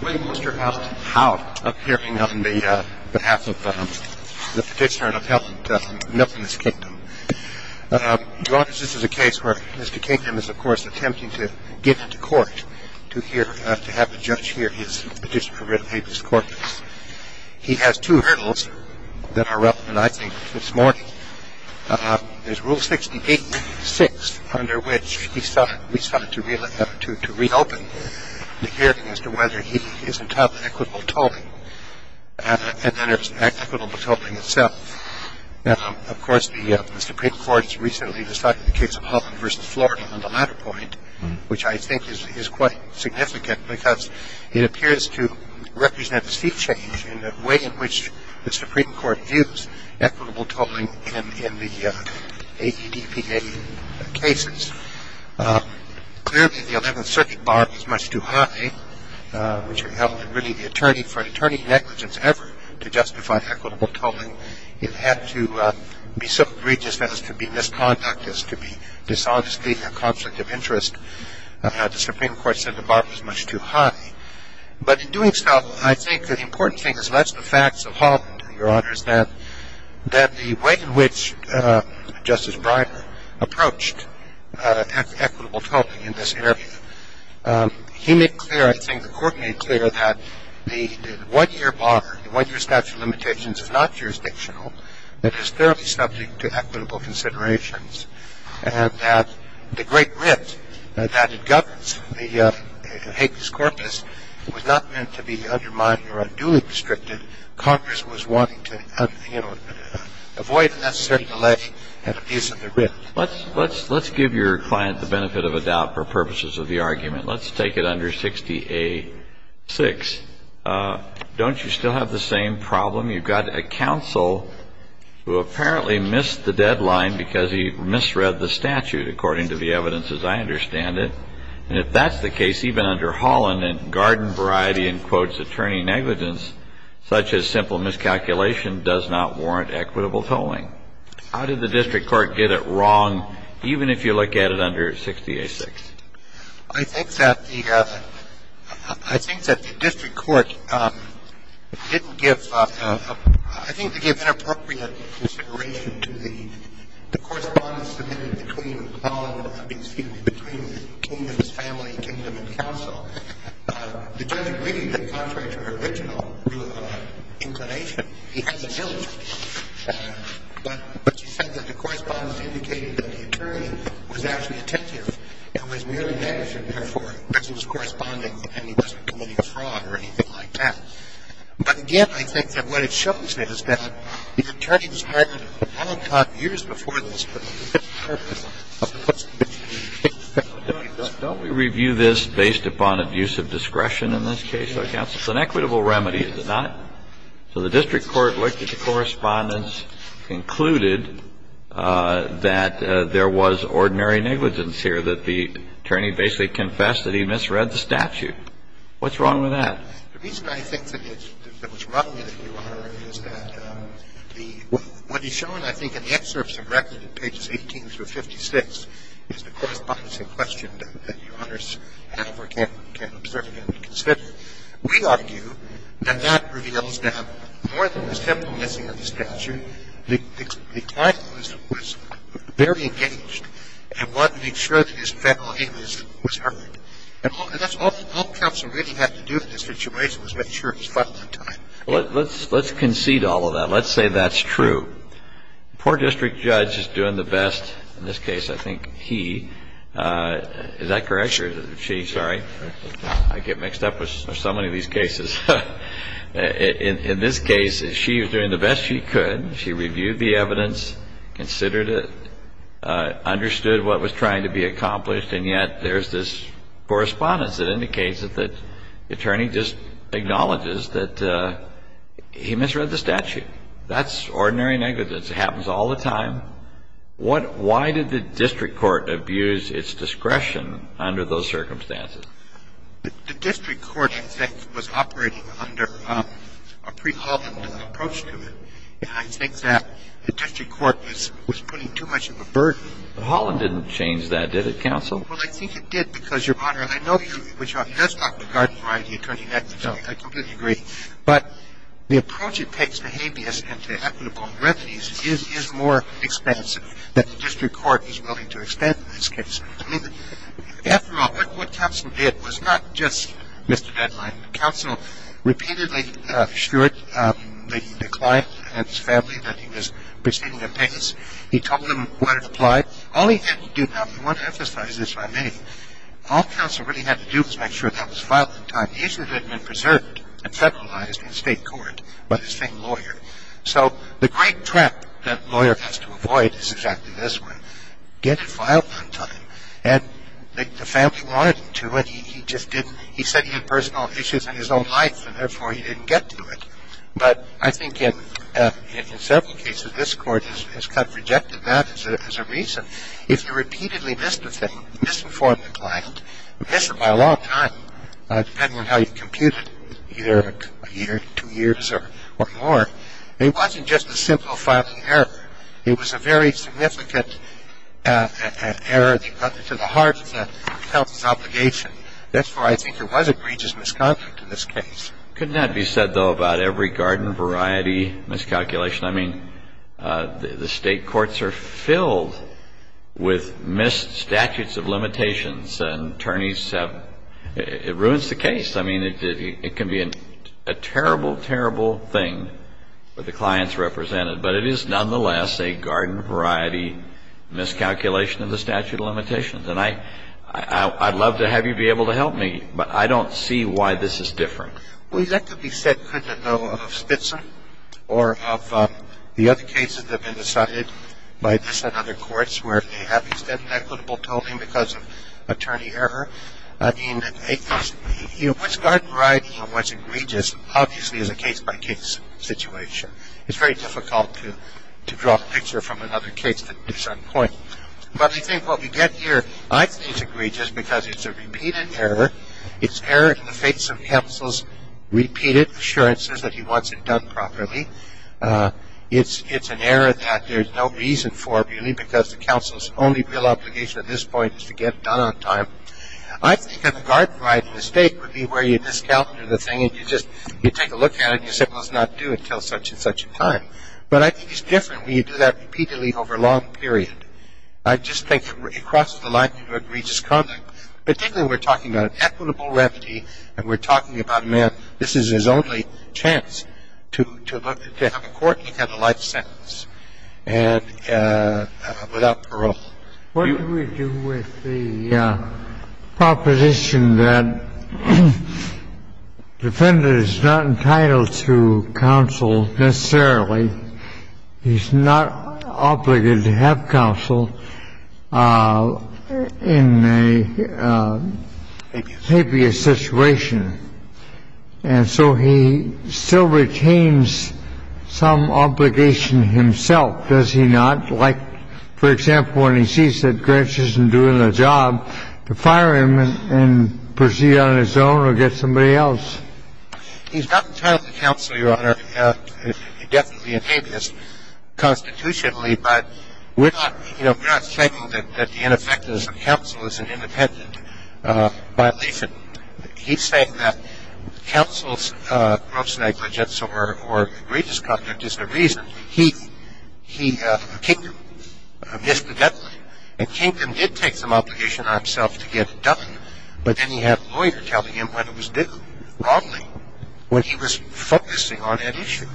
When will Mr. Alton Howe appear on behalf of the petitioner and appellant to milk in this kingdom? Your Honor, this is a case where Mr. Kingham is, of course, attempting to get into court, to have the judge hear his petition for rid of habeas corpus. He has two hurdles that are relevant, I think, this morning. There's Rule 68.6, under which he sought to reopen the hearing as to whether he is entitled to equitable tolling. And then there's equitable tolling itself. Of course, the Supreme Court's recently decided the case of Holland v. Florida on the latter point, which I think is quite significant because it appears to represent a seat change in the way in which the Supreme Court views equitable tolling in the AEDPA cases. Clearly, the Eleventh Circuit bar was much too high, which would have really held the attorney for an attorney's negligence ever to justify equitable tolling. It had to be so egregious as to be misconduct, as to be dishonesty in a conflict of interest. The Supreme Court said the bar was much too high. But in doing so, I think the important thing is less the facts of Holland, Your Honors, than the way in which Justice Breyer approached equitable tolling in this area. He made clear, I think the Court made clear, that the one-year bar, the one-year statute of limitations is not jurisdictional. It is thoroughly subject to equitable considerations. And that the Great Rift that governs the Hague's Corpus was not meant to be undermined or unduly restricted. Congress was wanting to avoid unnecessary delay and abuse of the Rift. Let's give your client the benefit of a doubt for purposes of the argument. Let's take it under 60A6. Don't you still have the same problem? You've got a counsel who apparently missed the deadline because he misread the statute, according to the evidence as I understand it. And if that's the case, even under Holland, a garden variety in quotes attorney negligence such as simple miscalculation does not warrant equitable tolling. How did the district court get it wrong, even if you look at it under 60A6? I think that the, I think that the district court didn't give, I think they gave inappropriate consideration to the correspondence submitted between Holland, excuse me, between the king and his family, kingdom and council. The judge agreed that contrary to her original inclination, he had an illness. But she said that the correspondence indicated that the attorney was actually attentive and was merely negligent. Therefore, this was corresponding and he wasn't committing a fraud or anything like that. But again, I think that what it shows me is that the attorney described Holland time years before this for the purpose of what's to be the case. Don't we review this based upon abuse of discretion in this case, though, counsel? It's an equitable remedy, is it not? So the district court looked at the correspondence, concluded that there was ordinary negligence here, that the attorney basically confessed that he misread the statute. What's wrong with that? The reason I think that it was wrong, Your Honor, is that what is shown, I think, in the excerpts of record, pages 18 through 56, is the correspondence in question that Your Honors have or can observe and consider. We argue that that reveals that more than the simple misreading of the statute, the client was very engaged and wanted to make sure that his family was heard. And that's all counsel really had to do in this situation was make sure he was fun on time. Let's concede all of that. Let's say that's true. The poor district judge is doing the best in this case, I think, he. Is that correct? She, sorry. I get mixed up with so many of these cases. In this case, she was doing the best she could. She reviewed the evidence, considered it, understood what was trying to be accomplished, and yet there's this correspondence that indicates that the attorney just acknowledges that he misread the statute. That's ordinary negligence. It happens all the time. Why did the district court abuse its discretion under those circumstances? The district court, in fact, was operating under a pre-Holland approach to it. I think that the district court was putting too much of a burden. Holland didn't change that, did it, counsel? Well, I think it did because, Your Honor, I know that you, which does talk regarding variety of attorney negligence. I completely agree. But the approach it takes to habeas and to equitable remedies is more expansive than the district court is willing to extend in this case. I mean, after all, what counsel did was not just miss the deadline. Counsel repeatedly assured the client and his family that he was proceeding in pace. He told them what had applied. All he had to do, and I want to emphasize this, if I may, all counsel really had to do was make sure that was filed in time. The issue had been preserved and federalized in state court by the same lawyer. So the great trap that a lawyer has to avoid is exactly this one. Get it filed on time. And the family wanted him to, and he just didn't. He said he had personal issues in his own life, and therefore he didn't get to it. But I think in several cases this Court has kind of rejected that as a reason. If you repeatedly miss the thing, misinform the client, miss it by a long time, depending on how you compute it, either a year, two years, or more, it wasn't just a simple filing error. It was a very significant error to the heart of the counsel's obligation. Therefore, I think it was a grievous misconduct in this case. Could not be said, though, about every garden variety miscalculation. I mean, the state courts are filled with missed statutes of limitations, and attorneys have ‑‑ it ruins the case. I mean, it can be a terrible, terrible thing for the clients represented, but it is nonetheless a garden variety miscalculation of the statute of limitations. And I'd love to have you be able to help me, but I don't see why this is different. Well, that could be said, couldn't it, though, of Spitzen or of the other cases that have been decided by this and other courts where they have extended equitable tolling because of attorney error. I mean, which garden variety and what's egregious obviously is a case-by-case situation. It's very difficult to draw a picture from another case at some point. But I think what we get here, I think it's egregious because it's a repeated error. It's error in the face of counsel's repeated assurances that he wants it done properly. It's an error that there's no reason for, really, because the counsel's only real obligation at this point is to get it done on time. I think that the garden variety mistake would be where you miscalculate the thing and you just take a look at it and you say, well, it's not due until such and such a time. But I think it's different when you do that repeatedly over a long period. I just think across the line, egregious conduct, particularly when we're talking about equitable remedy and we're talking about, man, this is his only chance to have a court and have a life sentence without parole. What do we do with the proposition that the defendant is not entitled to counsel necessarily? He's not obligated to have counsel in a habeas situation. And so he still retains some obligation himself, does he not? Like, for example, when he sees that Grinch isn't doing the job, to fire him and proceed on his own or get somebody else. He's not entitled to counsel, Your Honor. He definitely inhabits constitutionally. But we're not saying that the ineffectiveness of counsel is an independent violation. He's saying that counsel's gross negligence or egregious conduct is the reason he missed the deadline. And Kingdom did take some obligation on himself to get it done, but then he had a lawyer telling him when it was due, wrongly, when he was focusing on that issue.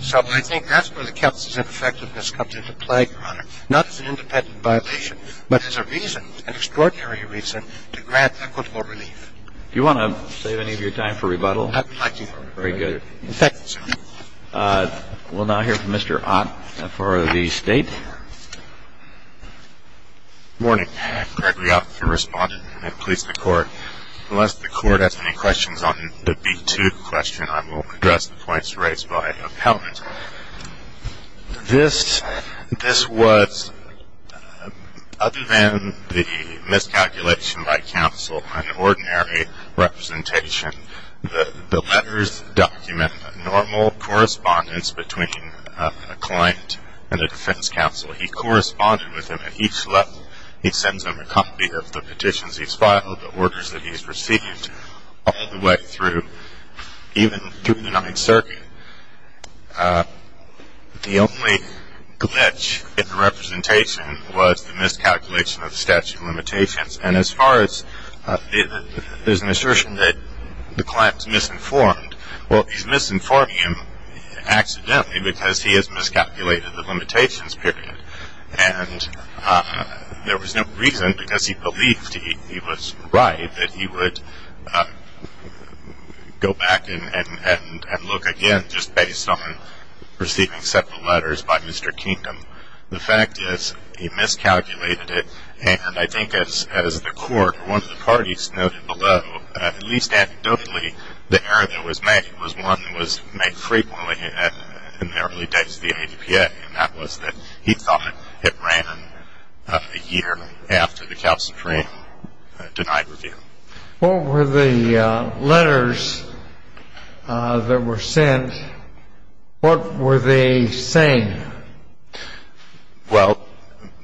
So I think that's where the counsel's ineffectiveness comes into play, Your Honor. The reason that the defendant is not entitled to counsel is not an independent violation. It's a reason, an extraordinary reason, to grant equitable relief. Do you want to save any of your time for rebuttal? I'd like to. Very good. In fact, we'll now hear from Mr. Ott for the State. Good morning. Gregory Ott from Respondent and Police Department. Unless the court has any questions on the B-2 question, I will address the points raised by appellant. This was, other than the miscalculation by counsel, an ordinary representation. The letters document normal correspondence between a client and a defense counsel. He corresponded with them at each level. He sends them a copy of the petitions he's filed, the orders that he's received, all the way through, even through the Ninth Circuit. The only glitch in the representation was the miscalculation of statute of limitations, and as far as there's an assertion that the client's misinformed. Well, he's misinforming him accidentally because he has miscalculated the limitations period, and there was no reason because he believed he was right that he would go back and look again, just based on receiving several letters by Mr. Kingdom. The fact is he miscalculated it, and I think as the court or one of the parties noted below, at least anecdotally, the error that was made was one that was made frequently in the early days of the ADPA, and that was that he thought it ran a year after the counsel frame denied review. What were the letters that were sent? What were they saying? Well,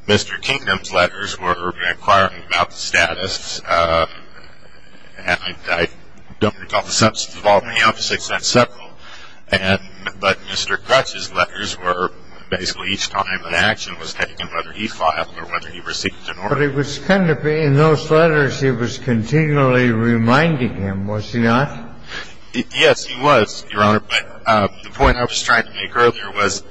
Mr. Kingdom's letters were inquiring about the status, and I don't recall the substance of all of them. But Mr. Grutsch's letters were basically each time an action was taken, whether he filed or whether he received an order. But it was kind of in those letters he was continually reminding him, was he not? Yes, he was, Your Honor, but the point I was trying to make earlier was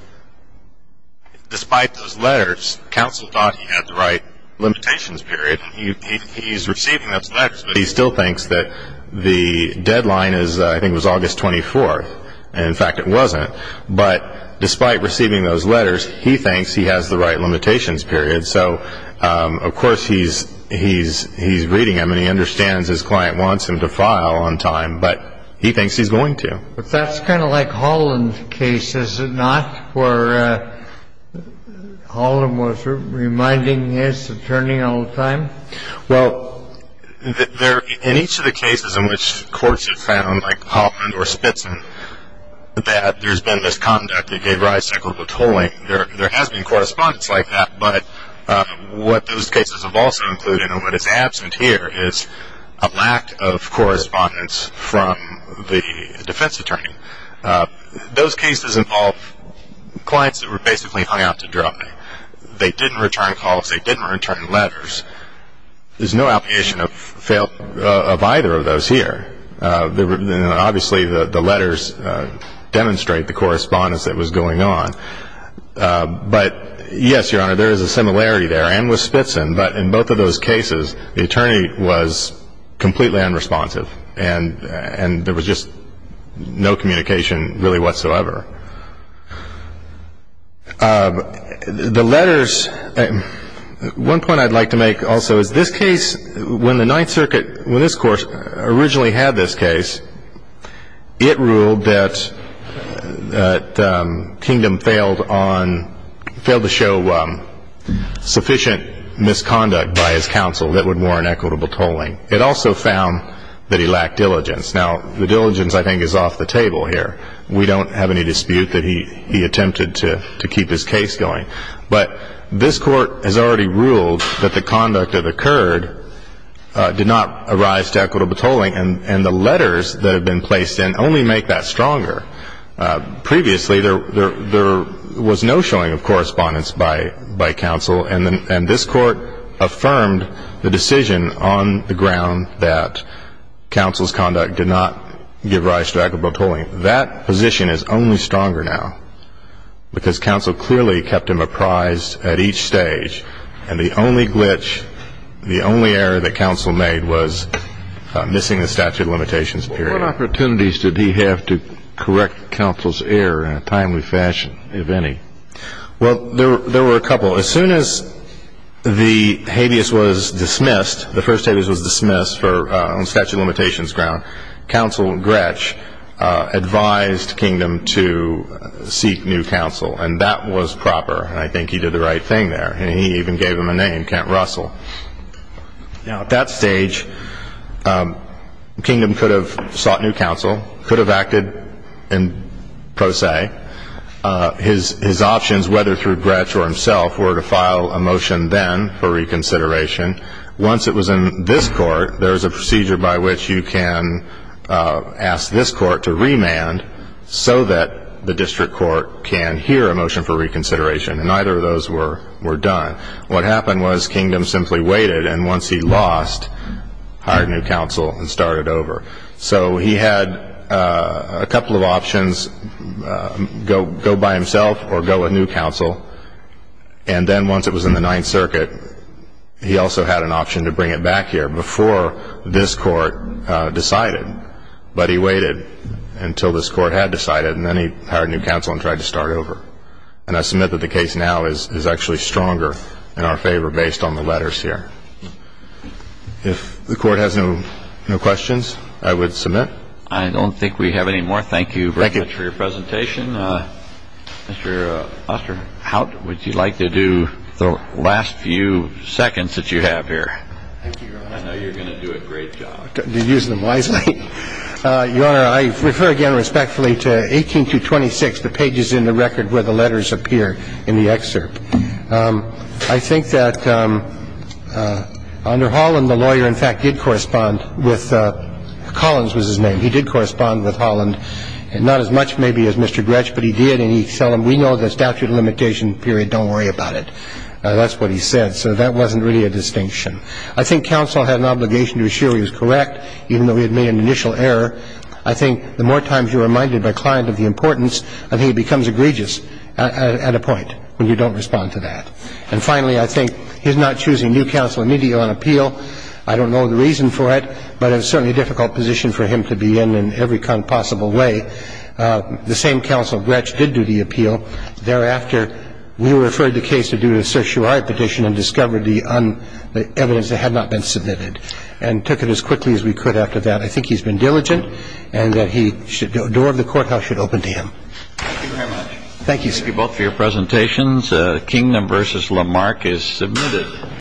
despite those letters, counsel thought he had the right limitations period, and he's receiving those letters, but he still thinks that the deadline is I think it was August 24th, and in fact it wasn't. But despite receiving those letters, he thinks he has the right limitations period. So, of course, he's reading them, and he understands his client wants him to file on time, but he thinks he's going to. But that's kind of like Holland's case, is it not, where Holland was reminding his attorney all the time? Well, in each of the cases in which courts have found, like Holland or Spitzen, that there's been misconduct, that gave rise to equitable tolling, there has been correspondence like that. But what those cases have also included and what is absent here is a lack of correspondence from the defense attorney. Those cases involve clients that were basically hung out to dry. They didn't return calls. They didn't return letters. There's no application of either of those here. Obviously, the letters demonstrate the correspondence that was going on. But, yes, Your Honor, there is a similarity there, and with Spitzen. But in both of those cases, the attorney was completely unresponsive, and there was just no communication really whatsoever. The letters, one point I'd like to make also is this case, when the Ninth Circuit, when this court originally had this case, it ruled that Kingdom failed to show sufficient misconduct by his counsel that would warrant equitable tolling. It also found that he lacked diligence. Now, the diligence, I think, is off the table here. We don't have any dispute that he attempted to keep his case going. But this court has already ruled that the conduct that occurred did not arise to equitable tolling, and the letters that have been placed in only make that stronger. Previously, there was no showing of correspondence by counsel, and this court affirmed the decision on the ground that counsel's conduct did not give rise to equitable tolling. That position is only stronger now because counsel clearly kept him apprised at each stage, and the only glitch, the only error that counsel made was missing the statute of limitations period. What opportunities did he have to correct counsel's error in a timely fashion, if any? Well, there were a couple. As soon as the habeas was dismissed, the first habeas was dismissed on statute of limitations ground, counsel Gretsch advised Kingdom to seek new counsel, and that was proper. I think he did the right thing there. He even gave him a name, Kent Russell. Now, at that stage, Kingdom could have sought new counsel, could have acted in pro se. His options, whether through Gretsch or himself, were to file a motion then for reconsideration. Once it was in this court, there is a procedure by which you can ask this court to remand so that the district court can hear a motion for reconsideration, and neither of those were done. What happened was Kingdom simply waited, and once he lost, hired new counsel and started over. So he had a couple of options, go by himself or go with new counsel, and then once it was in the Ninth Circuit, he also had an option to bring it back here before this court decided. But he waited until this court had decided, and then he hired new counsel and tried to start over. And I submit that the case now is actually stronger in our favor based on the letters here. If the Court has no questions, I would submit. I don't think we have any more. Thank you very much for your presentation. Thank you. Mr. Auster, how would you like to do the last few seconds that you have here? Thank you, Your Honor. I know you're going to do a great job. Use them wisely. Your Honor, I refer again respectfully to 18-26, the pages in the record where the letters appear in the excerpt. I think that under Holland, the lawyer, in fact, did correspond with Collins was his name. He did correspond with Holland, not as much maybe as Mr. Gretsch, but he did. And he said, we know the statute of limitation period. Don't worry about it. That's what he said. So that wasn't really a distinction. I think counsel had an obligation to assure he was correct, even though he had made an initial error. I think the more times you're reminded by a client of the importance, I think he becomes egregious at a point when you don't respond to that. And finally, I think he's not choosing new counsel immediately on appeal. I don't know the reason for it, but it's certainly a difficult position for him to be in in every kind of possible way. The same counsel, Gretsch, did do the appeal. Thereafter, we referred the case to do the certiorari petition and discovered the evidence that had not been submitted and took it as quickly as we could after that. I think he's been diligent and that the door of the courthouse should open to him. Thank you very much. Thank you, sir. Thank you both for your presentations. Kingdom v. Lamarck is submitted.